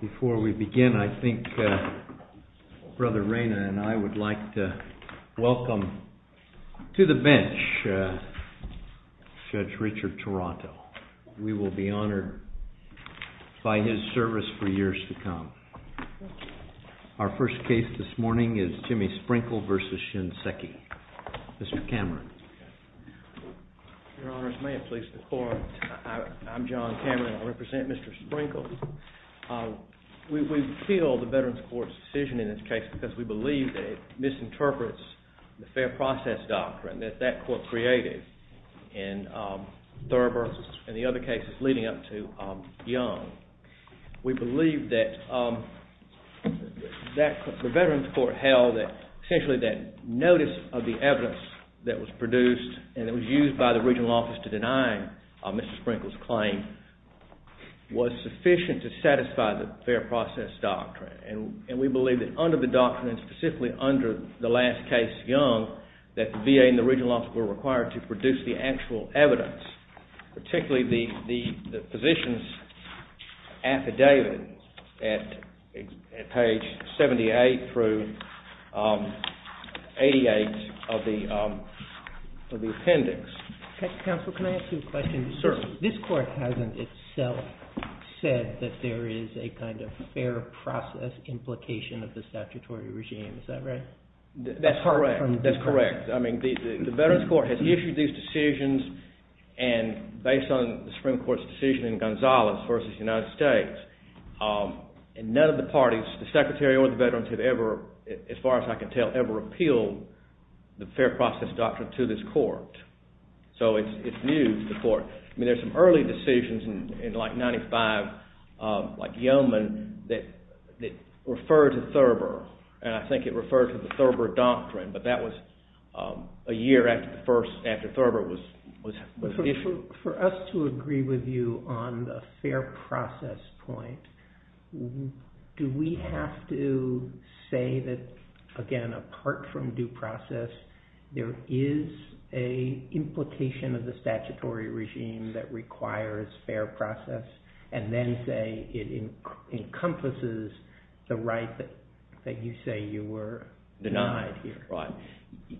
Before we begin, I think Brother Reina and I would like to welcome to the bench Judge Richard Toronto. We will be honored by his service for years to come. Our first case this morning is JIMMY SPRINKLE v. SHINSEKI. Mr. Cameron. Your Honors, may it please the Court, I'm John Cameron and I represent Mr. Sprinkles. We appeal the Veterans Court's decision in this case because we believe that it misinterprets the fair process doctrine that that court created in Thurber and the other cases leading up to Young. We believe that the Veterans Court held that essentially that notice of the evidence that was produced and that was used by the regional office to deny Mr. Sprinkles' claim was sufficient to satisfy the fair process doctrine. And we believe that under the doctrine and specifically under the last case, Young, that the VA and the regional office were required to produce the actual evidence, particularly the physician's affidavit at page 78 through 88 of the appendix. Counsel, can I ask you a question? Sure. This court hasn't itself said that there is a kind of fair process implication of the statutory regime. Is that right? That's correct. That's correct. I mean, the Veterans Court has issued these decisions and based on the Supreme Court's decision in Gonzalez v. United States, and none of the parties, the Secretary or the Veterans have ever, as far as I can tell, ever appealed the fair process doctrine to this court. So it's new to the court. I mean, there's some early decisions in, like, 95, like Yeoman, that refer to Thurber, and I think it referred to the Thurber doctrine, but that was a year after Thurber was issued. Counsel, for us to agree with you on the fair process point, do we have to say that, again, apart from due process, there is a implication of the statutory regime that requires fair process, and then say it encompasses the right that you say you were denied here?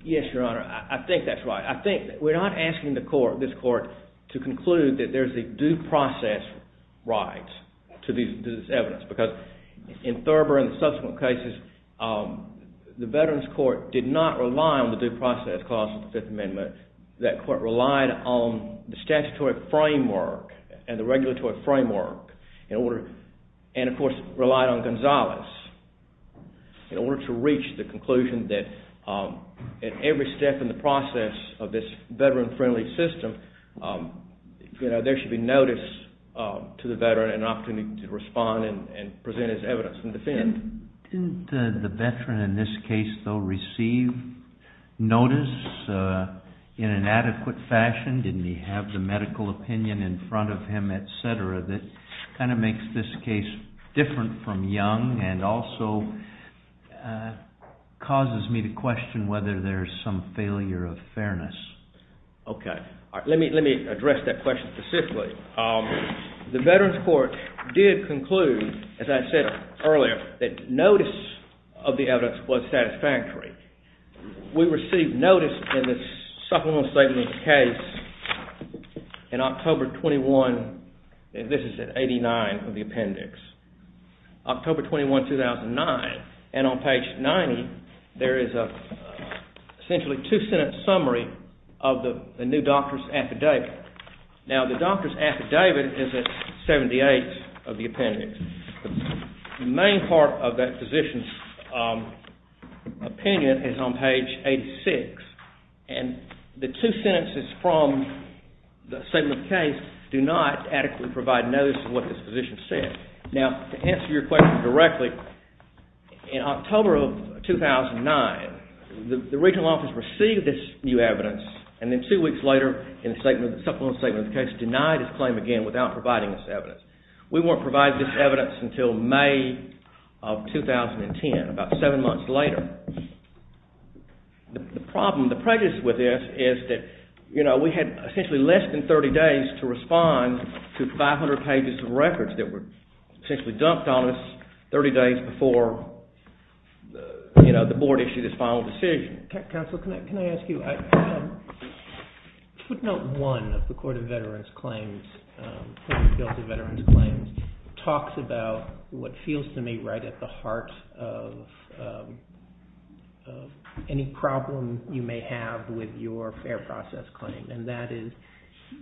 Yes, Your Honor. I think that's right. I think – we're not asking the court, this court, to conclude that there's a due process right to this evidence because in Thurber and the subsequent cases, the Veterans Court did not rely on the due process clause of the Fifth Amendment. That court relied on the statutory framework and the regulatory framework and, of course, relied on Gonzalez in order to reach the conclusion that at every step in the process of this Veteran-friendly system, there should be notice to the Veteran and an opportunity to respond and present as evidence and defend. Didn't the Veteran in this case, though, receive notice in an adequate fashion? Didn't he have the medical opinion in front of him, et cetera, that kind of makes this case different from Young and also causes me to question whether there's some failure of fairness? Okay. Let me address that question specifically. The Veterans Court did conclude, as I said earlier, that notice of the evidence was satisfactory. We received notice in this supplemental statement case in October 21 – and this is at 89 of the appendix – October 21, 2009. And on page 90, there is essentially a two-sentence summary of the new doctor's affidavit. Now, the doctor's affidavit is at 78 of the appendix. The main part of that physician's opinion is on page 86, and the two sentences from the statement case do not adequately provide notice of what this physician said. Now, to answer your question directly, in October of 2009, the regional office received this new evidence, and then two weeks later, in the supplemental statement case, denied its claim again without providing this evidence. We weren't provided this evidence until May of 2010, about seven months later. Now, the problem, the prejudice with this is that we had essentially less than 30 days to respond to 500 pages of records that were essentially dumped on us 30 days before the board issued its final decision. Counsel, can I ask you – footnote 1 of the Court of Veterans Claims, the Bill of Veterans Claims, talks about what feels to me right at the heart of any problem you may have with your fair process claim, and that is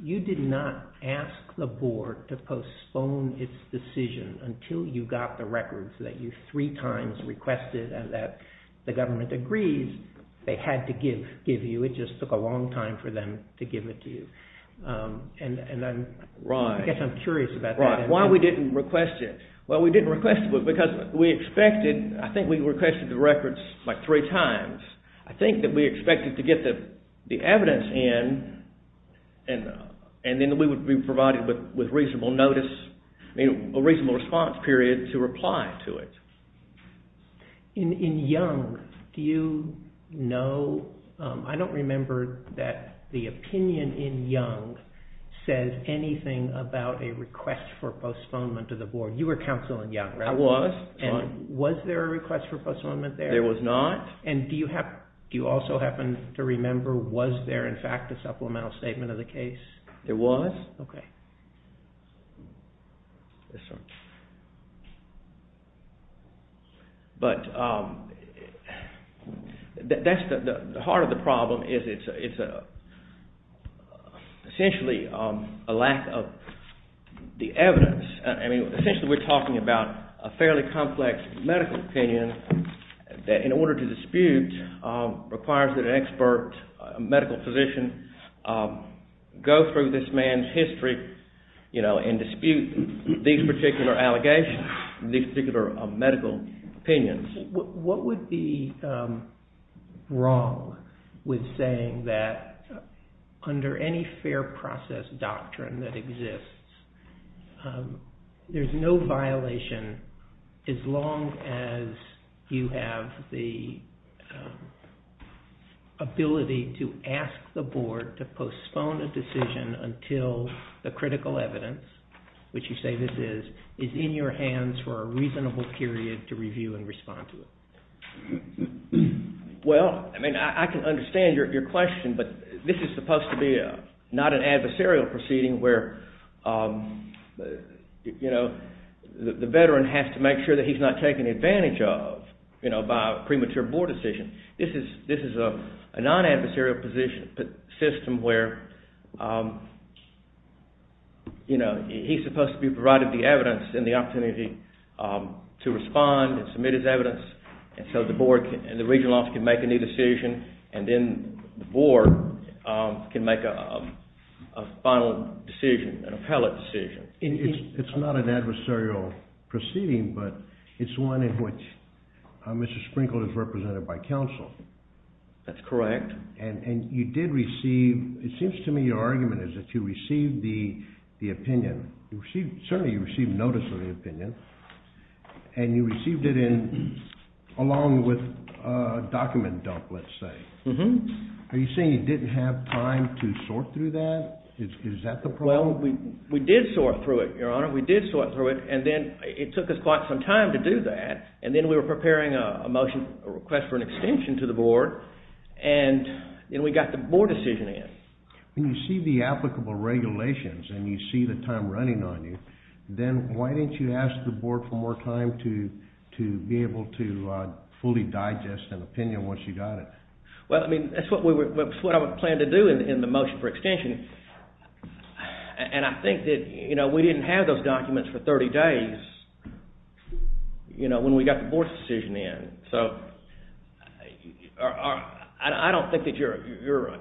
you did not ask the board to postpone its decision until you got the records that you three times requested and that the government agreed. They had to give you. It just took a long time for them to give it to you. Right. I guess I'm curious about that. Right. Why we didn't request it. Well, we didn't request it because we expected – I think we requested the records like three times. I think that we expected to get the evidence in, and then we would be provided with reasonable notice, a reasonable response period to reply to it. In Young, do you know – I don't remember that the opinion in Young says anything about a request for postponement to the board. You were counsel in Young, right? I was. Was there a request for postponement there? There was not. And do you also happen to remember, was there in fact a supplemental statement of the case? There was. Okay. But that's the – the heart of the problem is it's essentially a lack of the evidence. Essentially we're talking about a fairly complex medical opinion that in order to dispute requires that an expert medical physician go through this man's history and dispute these particular allegations, these particular medical opinions. What would be wrong with saying that under any fair process doctrine that exists, there's no violation as long as you have the ability to ask the board to postpone a decision until the critical evidence, which you say this is, is in your hands for a reasonable period to review and respond to. Well, I mean, I can understand your question, but this is supposed to be not an adversarial proceeding where, you know, the veteran has to make sure that he's not taken advantage of, you know, by a premature board decision. This is – this is a non-adversarial position – system where, you know, he's supposed to be provided the evidence and the opportunity to respond and submit his evidence and so the board and the regional office can make a new decision and then the board can make a final decision, an appellate decision. It's not an adversarial proceeding, but it's one in which Mr. Sprinkled is represented by counsel. That's correct. And you did receive – it seems to me your argument is that you received the opinion. You received – certainly you received notice of the opinion and you received it in – along with a document dump, let's say. Are you saying you didn't have time to sort through that? Is that the problem? Well, we did sort through it, Your Honor. We did sort through it, and then it took us quite some time to do that, and then we were preparing a motion, a request for an extension to the board, and then we got the board decision in. When you see the applicable regulations and you see the time running on you, then why didn't you ask the board for more time to be able to fully digest an opinion once you got it? Well, I mean, that's what I planned to do in the motion for extension, and I think that we didn't have those documents for 30 days when we got the board decision in. So I don't think that you're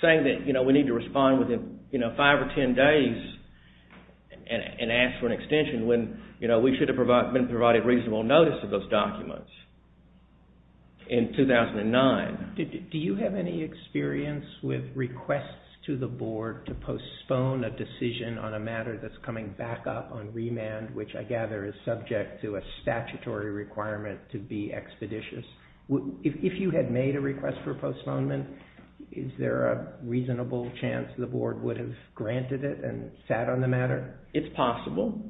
saying that we need to respond within 5 or 10 days and ask for an extension when we should have been provided reasonable notice of those documents in 2009. Do you have any experience with requests to the board to postpone a decision on a matter that's coming back up on remand, which I gather is subject to a statutory requirement to be expeditious? If you had made a request for postponement, is there a reasonable chance the board would have granted it and sat on the matter? It's possible.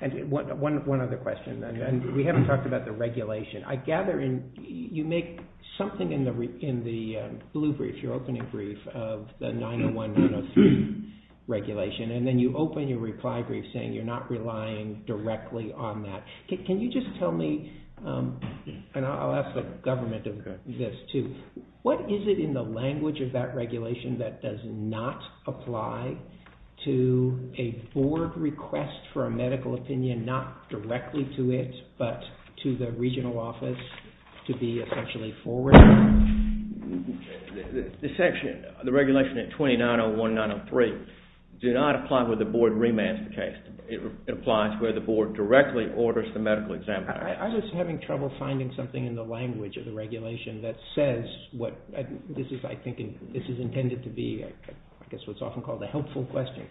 And one other question. We haven't talked about the regulation. I gather you make something in the blue brief, your opening brief, of the 901, 903 regulation, and then you open your reply brief saying you're not relying directly on that. Can you just tell me, and I'll ask the government of this too, what is it in the language of that regulation that does not apply to a board request for a medical opinion, not directly to it, but to the regional office to be essentially forwarded? The section, the regulation at 2901, 903, do not apply where the board remands the case. It applies where the board directly orders the medical examiner. I was having trouble finding something in the language of the regulation that says what this is, I think, this is intended to be, I guess, what's often called a helpful question.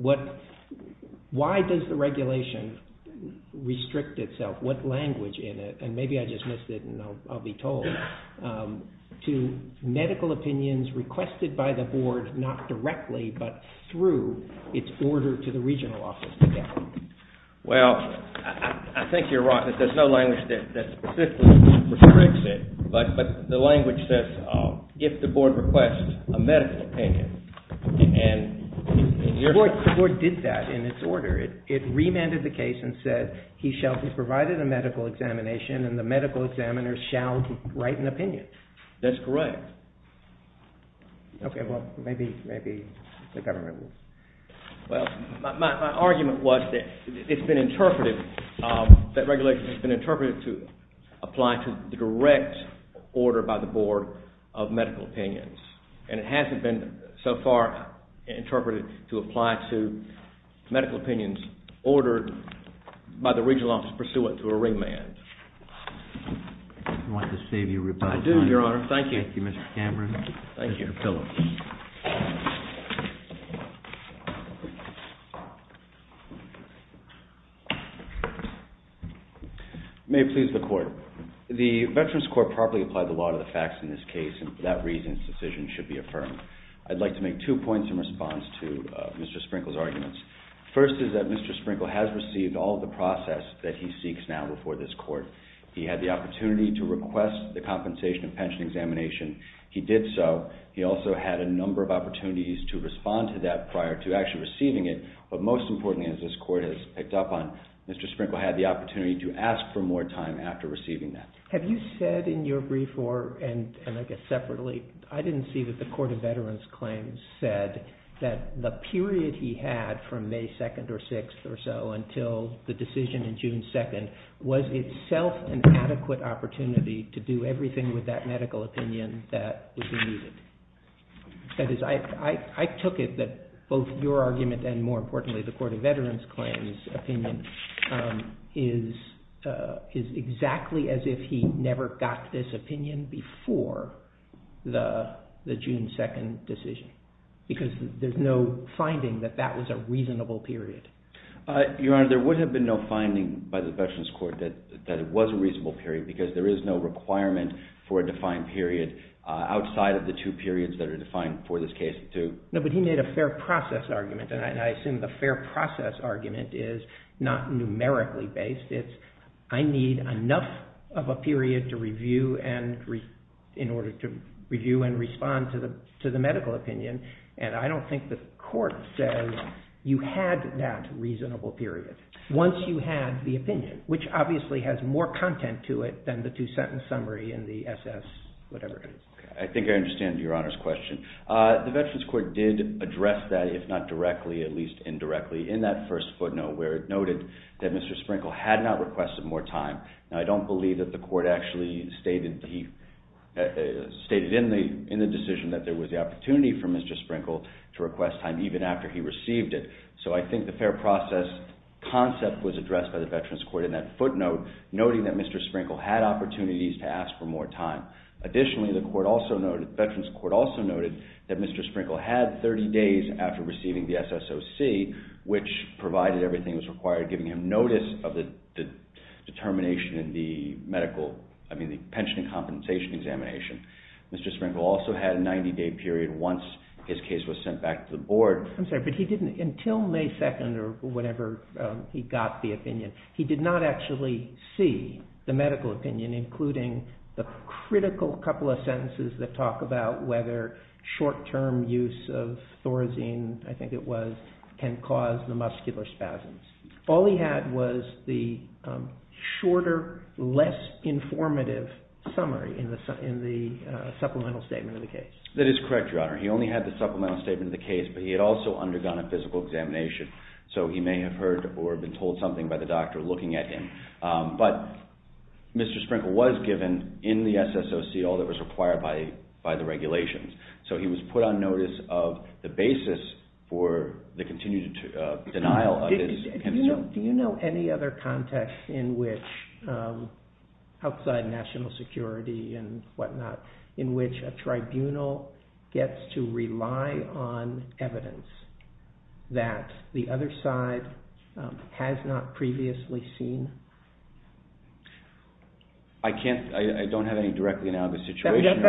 Why does the regulation restrict itself, what language in it, and maybe I just missed it and I'll be told, to medical opinions requested by the board, not directly, but through its order to the regional office? Well, I think you're right. There's no language that specifically restricts it, but the language says if the board requests a medical opinion. The board did that in its order. It remanded the case and said he shall be provided a medical examination and the medical examiner shall write an opinion. That's correct. Okay, well, maybe the government will. Well, my argument was that it's been interpreted, that regulation has been interpreted to apply to the direct order by the board of medical opinions. And it hasn't been, so far, interpreted to apply to medical opinions ordered by the regional office pursuant to a remand. I want to save you a reply. I do, Your Honor. Thank you. Thank you, Mr. Cameron. Thank you. Thank you, Mr. Phillips. May it please the Court. The Veterans Court properly applied the law to the facts in this case, and for that reason, this decision should be affirmed. I'd like to make two points in response to Mr. Sprinkle's arguments. First is that Mr. Sprinkle has received all of the process that he seeks now before this court. He had the opportunity to request the compensation of pension examination. He did so. He also had a number of opportunities to respond to that prior to actually receiving it. But most importantly, as this court has picked up on, Mr. Sprinkle had the opportunity to ask for more time after receiving that. Have you said in your brief or, and I guess separately, I didn't see that the Court of Veterans Claims said that the period he had from May 2nd or 6th or so until the decision in June 2nd was itself an adequate opportunity to do everything with that medical opinion that was needed? That is, I took it that both your argument and, more importantly, the Court of Veterans Claims' opinion is exactly as if he never got this opinion before the June 2nd decision, because there's no finding that that was a reasonable period. Your Honor, there would have been no finding by the Veterans Court that it was a reasonable period, because there is no requirement for a defined period outside of the two periods that are defined for this case, too. No, but he made a fair process argument, and I assume the fair process argument is not numerically based. It's, I need enough of a period to review in order to review and respond to the medical opinion. And I don't think the Court says you had that reasonable period once you had the opinion, which obviously has more content to it than the two-sentence summary in the SS whatever. I think I understand your Honor's question. The Veterans Court did address that, if not directly, at least indirectly, in that first footnote, where it noted that Mr. Sprinkle had not requested more time. Now, I don't believe that the Court actually stated in the decision that there was the opportunity for Mr. Sprinkle to request time, even after he received it. So I think the fair process concept was addressed by the Veterans Court in that footnote, noting that Mr. Sprinkle had opportunities to ask for more time. Additionally, the Veterans Court also noted that Mr. Sprinkle had 30 days after receiving the SSOC, which provided everything that was required, giving him notice of the determination in the medical, I mean the pension and compensation examination. Mr. Sprinkle also had a 90-day period once his case was sent back to the Board. I'm sorry, but he didn't, until May 2nd or whenever he got the opinion, he did not actually see the medical opinion, including the critical couple of sentences that talk about whether short-term use of Thorazine, I think it was, can cause the muscular spasms. All he had was the shorter, less informative summary in the supplemental statement of the case. That is correct, Your Honor. He only had the supplemental statement of the case, but he had also undergone a physical examination. So he may have heard or been told something by the doctor looking at him. But Mr. Sprinkle was given, in the SSOC, all that was required by the regulations. So he was put on notice of the basis for the continued denial of his pension. Do you know any other context in which, outside national security and whatnot, in which a tribunal gets to rely on evidence that the other side has not previously seen? I can't, I don't have any directly analogous situation.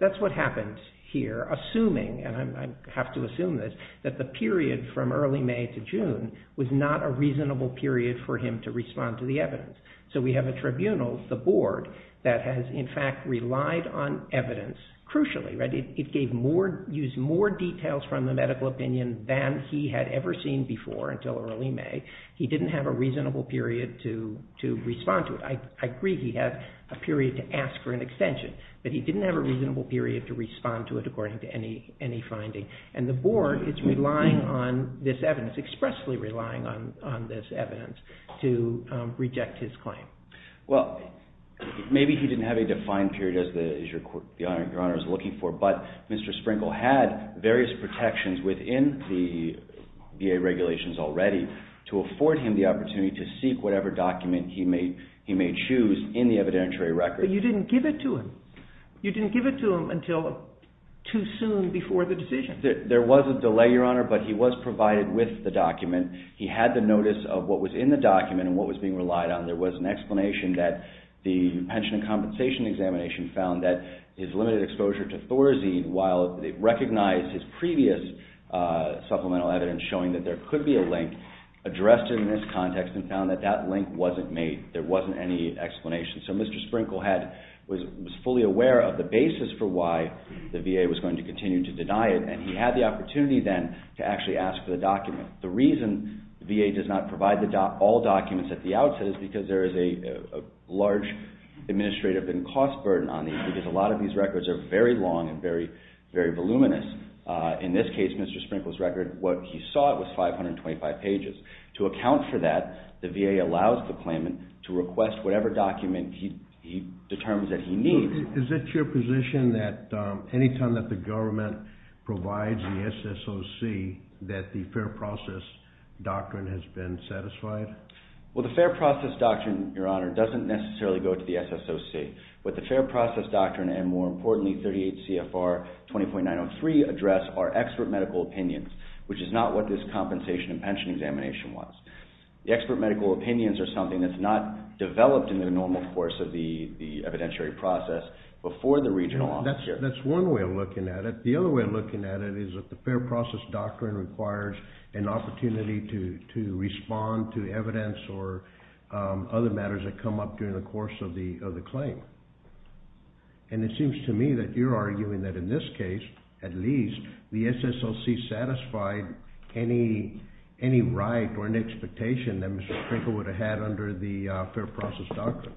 That's what happens here, assuming, and I have to assume this, that the period from early May to June was not a reasonable period for him to respond to the evidence. So we have a tribunal, the board, that has, in fact, relied on evidence, crucially. It gave more, used more details from the medical opinion than he had ever seen before until early May. He didn't have a reasonable period to respond to it. I agree he had a period to ask for an extension, but he didn't have a reasonable period to respond to it according to any finding. And the board is relying on this evidence, expressly relying on this evidence, to reject his claim. Well, maybe he didn't have a defined period as your Honor is looking for, but Mr. Sprinkle had various protections within the VA regulations already to afford him the opportunity to seek whatever document he may choose in the evidentiary record. But you didn't give it to him. You didn't give it to him until too soon before the decision. There was a delay, your Honor, but he was provided with the document. He had the notice of what was in the document and what was being relied on. There was an explanation that the pension and compensation examination found that his limited exposure to Thorazine, while it recognized his previous supplemental evidence showing that there could be a link addressed in this context and found that that link wasn't made. There wasn't any explanation. So Mr. Sprinkle was fully aware of the basis for why the VA was going to continue to deny it, and he had the opportunity then to actually ask for the document. The reason the VA does not provide all documents at the outset is because there is a large administrative and cost burden on these, because a lot of these records are very long and very voluminous. In this case, Mr. Sprinkle's record, what he sought was 525 pages. To account for that, the VA allows the claimant to request whatever document he determines that he needs. Is it your position that any time that the government provides the SSOC that the fair process doctrine has been satisfied? Well, the fair process doctrine, your Honor, doesn't necessarily go to the SSOC. What the fair process doctrine and, more importantly, 38 CFR 20.903 address are expert medical opinions, which is not what this compensation and pension examination was. The expert medical opinions are something that's not developed in the normal course of the evidentiary process before the regional office here. That's one way of looking at it. The other way of looking at it is that the fair process doctrine requires an opportunity to respond to evidence or other matters that come up during the course of the claim. And it seems to me that you're arguing that in this case, at least, the SSOC satisfied any right or any expectation that Mr. Sprinkle would have had under the fair process doctrine.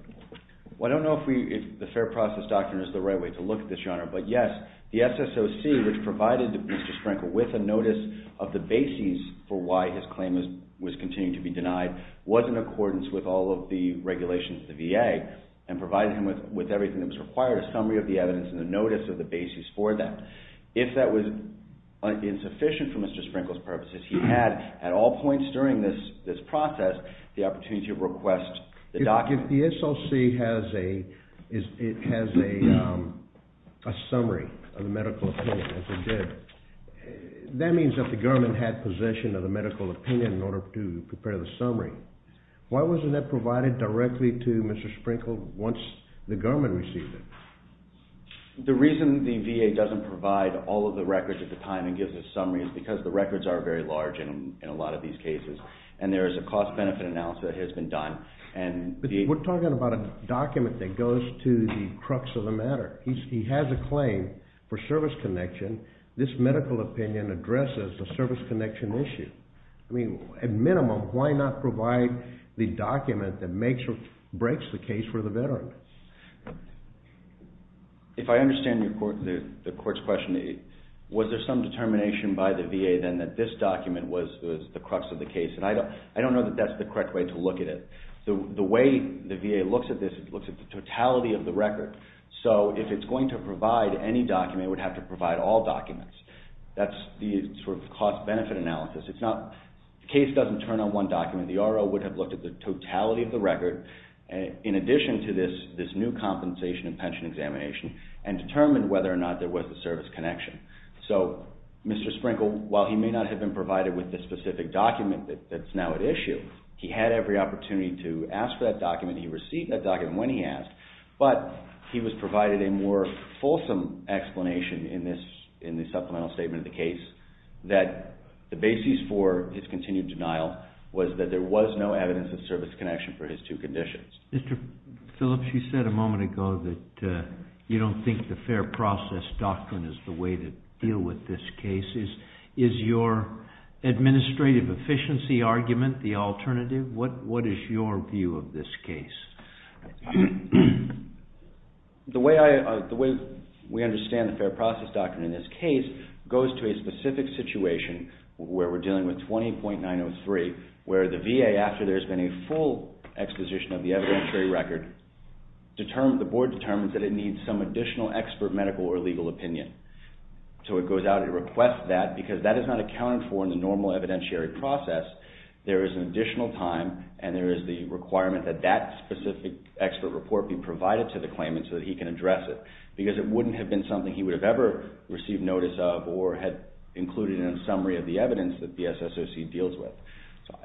Well, I don't know if the fair process doctrine is the right way to look at this, Your Honor, but yes. The SSOC, which provided Mr. Sprinkle with a notice of the bases for why his claim was continuing to be denied, was in accordance with all of the regulations of the VA and provided him with everything that was required, a summary of the evidence and a notice of the bases for that. If that was insufficient for Mr. Sprinkle's purposes, he had, at all points during this process, the opportunity to request the doctrine. If the SSOC has a summary of the medical opinion, as it did, that means that the government had possession of the medical opinion in order to prepare the summary. Why wasn't that provided directly to Mr. Sprinkle once the government received it? The reason the VA doesn't provide all of the records at the time and gives a summary is because the records are very large in a lot of these cases, and there is a cost-benefit analysis that has been done. But we're talking about a document that goes to the crux of the matter. He has a claim for service connection. This medical opinion addresses the service connection issue. At minimum, why not provide the document that breaks the case for the veteran? If I understand the court's question, was there some determination by the VA then that this document was the crux of the case? I don't know that that's the correct way to look at it. The way the VA looks at this, it looks at the totality of the record. So if it's going to provide any document, it would have to provide all documents. That's the cost-benefit analysis. The case doesn't turn on one document. The RO would have looked at the totality of the record in addition to this new compensation and pension examination and determined whether or not there was a service connection. So Mr. Sprinkle, while he may not have been provided with the specific document that's now at issue, he had every opportunity to ask for that document. He received that document when he asked. But he was provided a more fulsome explanation in the supplemental statement of the case that the basis for his continued denial was that there was no evidence of service connection for his two conditions. Mr. Phillips, you said a moment ago that you don't think the fair process doctrine is the way to deal with this case. Is your administrative efficiency argument the alternative? What is your view of this case? The way we understand the fair process doctrine in this case goes to a specific situation where we're dealing with 20.903 where the VA, after there's been a full exposition of the evidentiary record, the board determines that it needs some additional expert medical or legal opinion. So it goes out and requests that because that is not accounted for in the normal evidentiary process. There is an additional time and there is the requirement that that specific expert report be provided to the claimant so that he can address it because it wouldn't have been something he would have ever received notice of or had included in a summary of the evidence that the SSOC deals with. So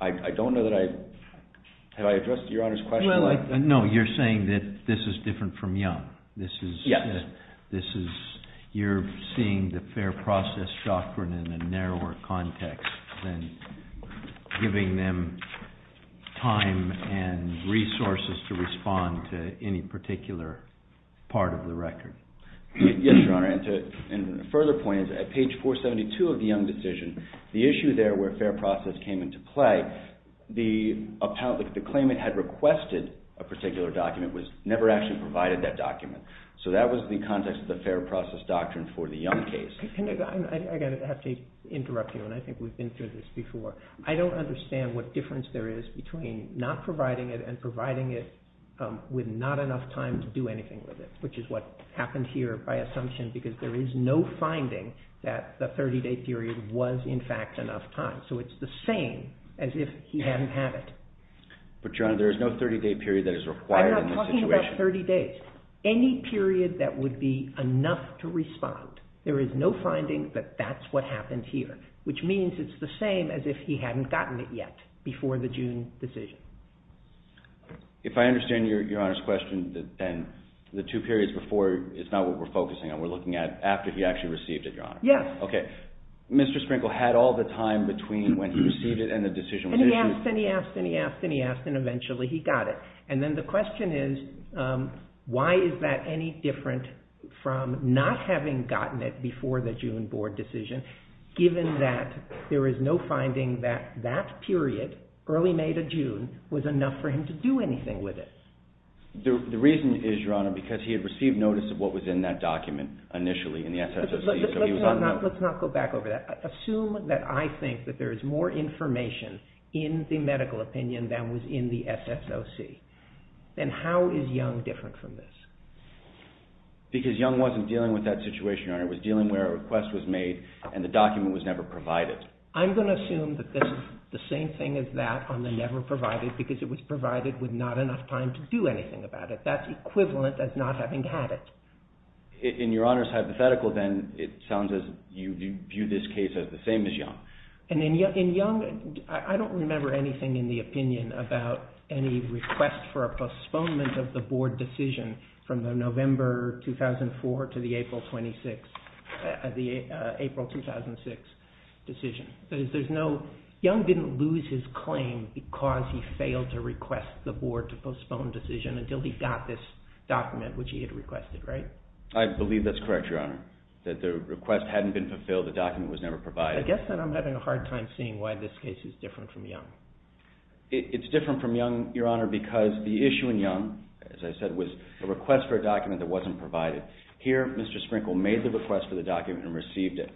I don't know that I, have I addressed your Honor's question? No, you're saying that this is different from Young. Yes. This is, you're seeing the fair process doctrine in a narrower context than giving them time and resources to respond to any particular part of the record. Yes, Your Honor, and to further point, at page 472 of the Young decision, the issue there where fair process came into play, the claimant had requested a particular document but never actually provided that document. So that was the context of the fair process doctrine for the Young case. I'm going to have to interrupt you, and I think we've been through this before. I don't understand what difference there is between not providing it and providing it with not enough time to do anything with it, which is what happened here by assumption because there is no finding that the 30-day period was in fact enough time. So it's the same as if he hadn't had it. But Your Honor, there is no 30-day period that is required in this situation. Any period that would be enough to respond, there is no finding that that's what happened here, which means it's the same as if he hadn't gotten it yet before the June decision. If I understand Your Honor's question, then the two periods before is not what we're focusing on. We're looking at after he actually received it, Your Honor. Yes. Okay. Mr. Sprinkle had all the time between when he received it and the decision was issued. And he asked, and he asked, and he asked, and he asked, and eventually he got it. And then the question is, why is that any different from not having gotten it before the June board decision, given that there is no finding that that period, early May to June, was enough for him to do anything with it? The reason is, Your Honor, because he had received notice of what was in that document initially in the SSOC. Let's not go back over that. Assume that I think that there is more information in the medical opinion than was in the SSOC. Then how is Young different from this? Because Young wasn't dealing with that situation, Your Honor. He was dealing where a request was made and the document was never provided. I'm going to assume that this is the same thing as that on the never provided, because it was provided with not enough time to do anything about it. That's equivalent as not having had it. In Your Honor's hypothetical then, it sounds as if you view this case as the same as Young. In Young, I don't remember anything in the opinion about any request for a postponement of the board decision from the November 2004 to the April 2006 decision. Young didn't lose his claim because he failed to request the board to postpone the decision until he got this document, which he had requested, right? I believe that's correct, Your Honor. That the request hadn't been fulfilled, the document was never provided. I guess then I'm having a hard time seeing why this case is different from Young. It's different from Young, Your Honor, because the issue in Young, as I said, was a request for a document that wasn't provided. Here, Mr. Sprinkle made the request for the document and received it.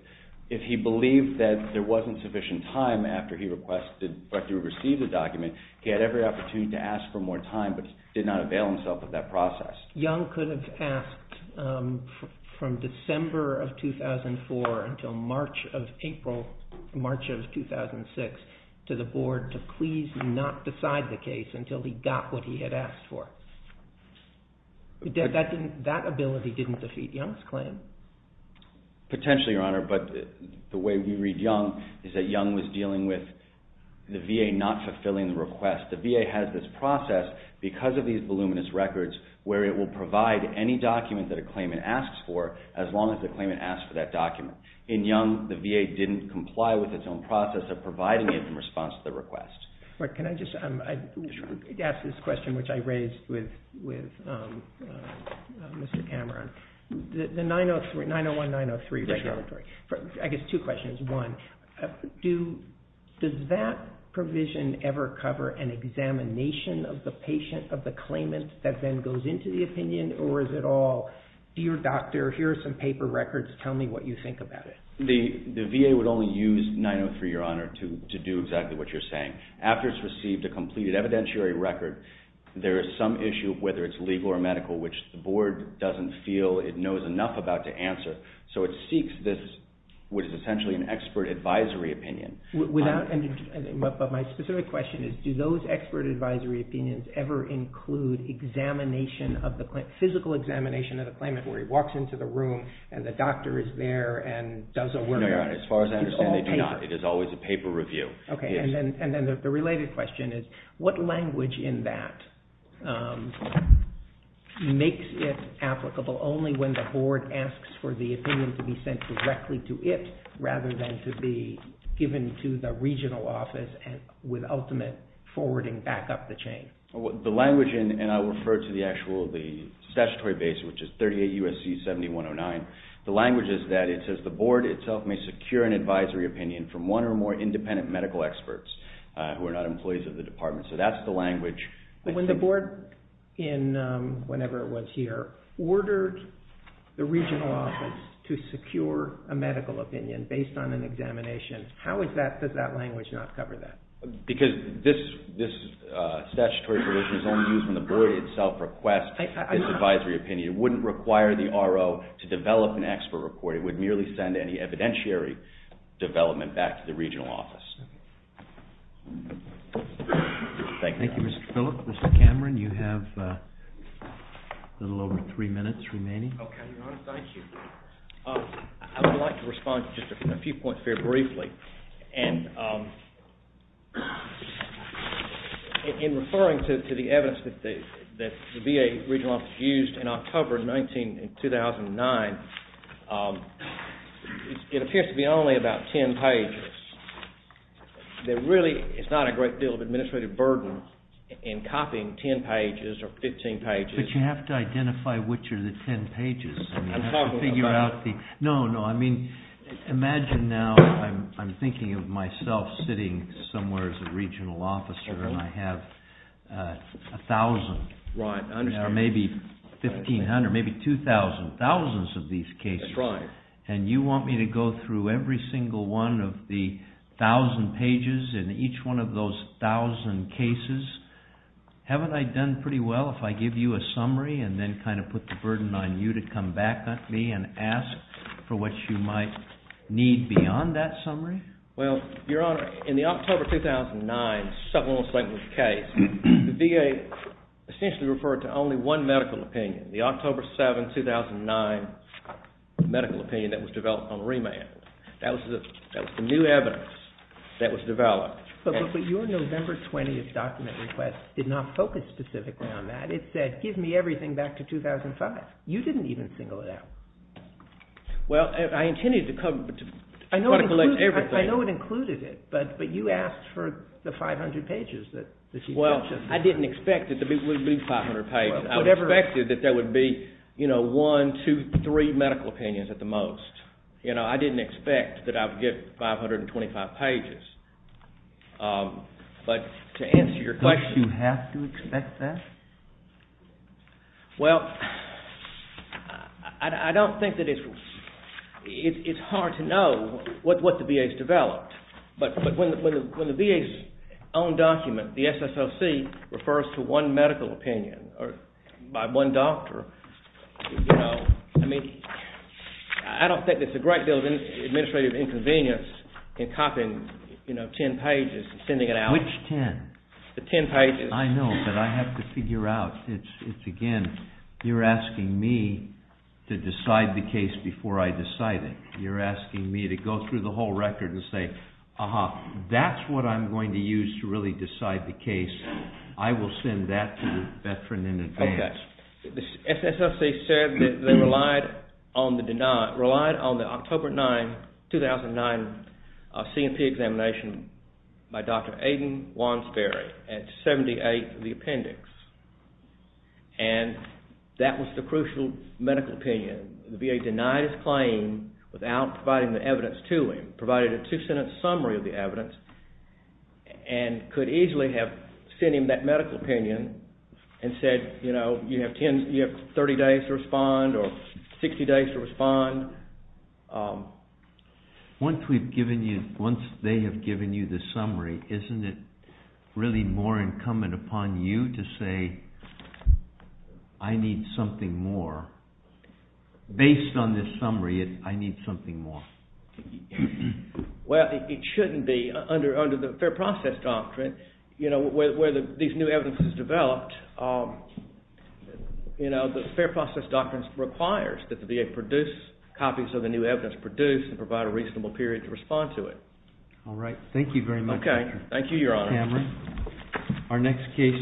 If he believed that there wasn't sufficient time after he received the document, he had every opportunity to ask for more time, but did not avail himself of that process. Young could have asked from December of 2004 until March of 2006 to the board to please not decide the case until he got what he had asked for. That ability didn't defeat Young's claim. Potentially, Your Honor, but the way we read Young is that Young was dealing with the VA not fulfilling the request. The VA has this process because of these voluminous records where it will provide any document that a claimant asks for as long as the claimant asks for that document. In Young, the VA didn't comply with its own process of providing it in response to the request. Can I just ask this question, which I raised with Mr. Cameron? The 901-903 regulatory, I guess two questions. Does that provision ever cover an examination of the patient, of the claimant, that then goes into the opinion, or is it all, dear doctor, here are some paper records, tell me what you think about it? The VA would only use 903, Your Honor, to do exactly what you're saying. After it's received a completed evidentiary record, there is some issue, whether it's legal or medical, which the board doesn't feel it knows enough about to answer. So it seeks this, which is essentially an expert advisory opinion. But my specific question is, do those expert advisory opinions ever include examination, physical examination of the claimant where he walks into the room and the doctor is there and does a word on it? No, Your Honor, as far as I understand, they do not. It is always a paper review. Okay, and then the related question is, what language in that makes it applicable only when the board asks for the opinion to be sent directly to it rather than to be given to the regional office with ultimate forwarding back up the chain? The language, and I'll refer to the actual statutory base, which is 38 U.S.C. 7109, the language is that it says the board itself may secure an advisory opinion from one or more independent medical experts who are not employees of the department. So that's the language. But when the board, whenever it was here, ordered the regional office to secure a medical opinion based on an examination, how does that language not cover that? Because this statutory provision is only used when the board itself requests this advisory opinion. It wouldn't require the RO to develop an expert report. It would merely send any evidentiary development back to the regional office. Thank you. Thank you, Mr. Philip. Mr. Cameron, you have a little over three minutes remaining. Okay, Your Honor, thank you. I would like to respond to just a few points very briefly. And in referring to the evidence that the VA regional office used in October of 2009, it appears to be only about 10 pages. There really is not a great deal of administrative burden in copying 10 pages or 15 pages. But you have to identify which are the 10 pages. I'm talking about the- No, no, I mean, imagine now I'm thinking of myself sitting somewhere as a regional officer, and I have 1,000. Right, I understand. And there are maybe 1,500, maybe 2,000, thousands of these cases. That's right. And you want me to go through every single one of the 1,000 pages in each one of those 1,000 cases? Haven't I done pretty well if I give you a summary and then kind of put the burden on you to come back at me and ask for what you might need beyond that summary? Well, Your Honor, in the October 2009 settlement settlement case, the VA essentially referred to only one medical opinion, the October 7, 2009 medical opinion that was developed on remand. That was the new evidence that was developed. But your November 20th document request did not focus specifically on that. It said, give me everything back to 2005. You didn't even single it out. Well, I intended to try to collect everything. I know it included it, but you asked for the 500 pages. Well, I didn't expect it to be 500 pages. I expected that there would be one, two, three medical opinions at the most. I didn't expect that I would get 525 pages. But to answer your question. Did you have to expect that? Well, I don't think that it's hard to know what the VA has developed. But when the VA's own document, the SSOC, refers to one medical opinion by one doctor, I don't think there's a great deal of administrative inconvenience in copying 10 pages and sending it out. Which 10? The 10 pages. I know, but I have to figure out. It's, again, you're asking me to decide the case before I decide it. You're asking me to go through the whole record and say, that's what I'm going to use to really decide the case. I will send that to the veteran in advance. The SSOC said that they relied on the October 2009 C&P examination by Dr. Aidan Wansberry at 78, the appendix. And that was the crucial medical opinion. The VA denied his claim without providing the evidence to him, provided a two-sentence summary of the evidence, and could easily have sent him that medical opinion and said, you know, you have 30 days to respond or 60 days to respond. Once we've given you, once they have given you the summary, isn't it really more incumbent upon you to say, I need something more? Based on this summary, I need something more. Well, it shouldn't be. Under the Fair Process Doctrine, you know, where these new evidences developed, you know, the Fair Process Doctrine requires that the VA produce copies of the new evidence, produce and provide a reasonable period to respond to it. All right. Thank you very much. Thank you, Your Honor. Our next case is.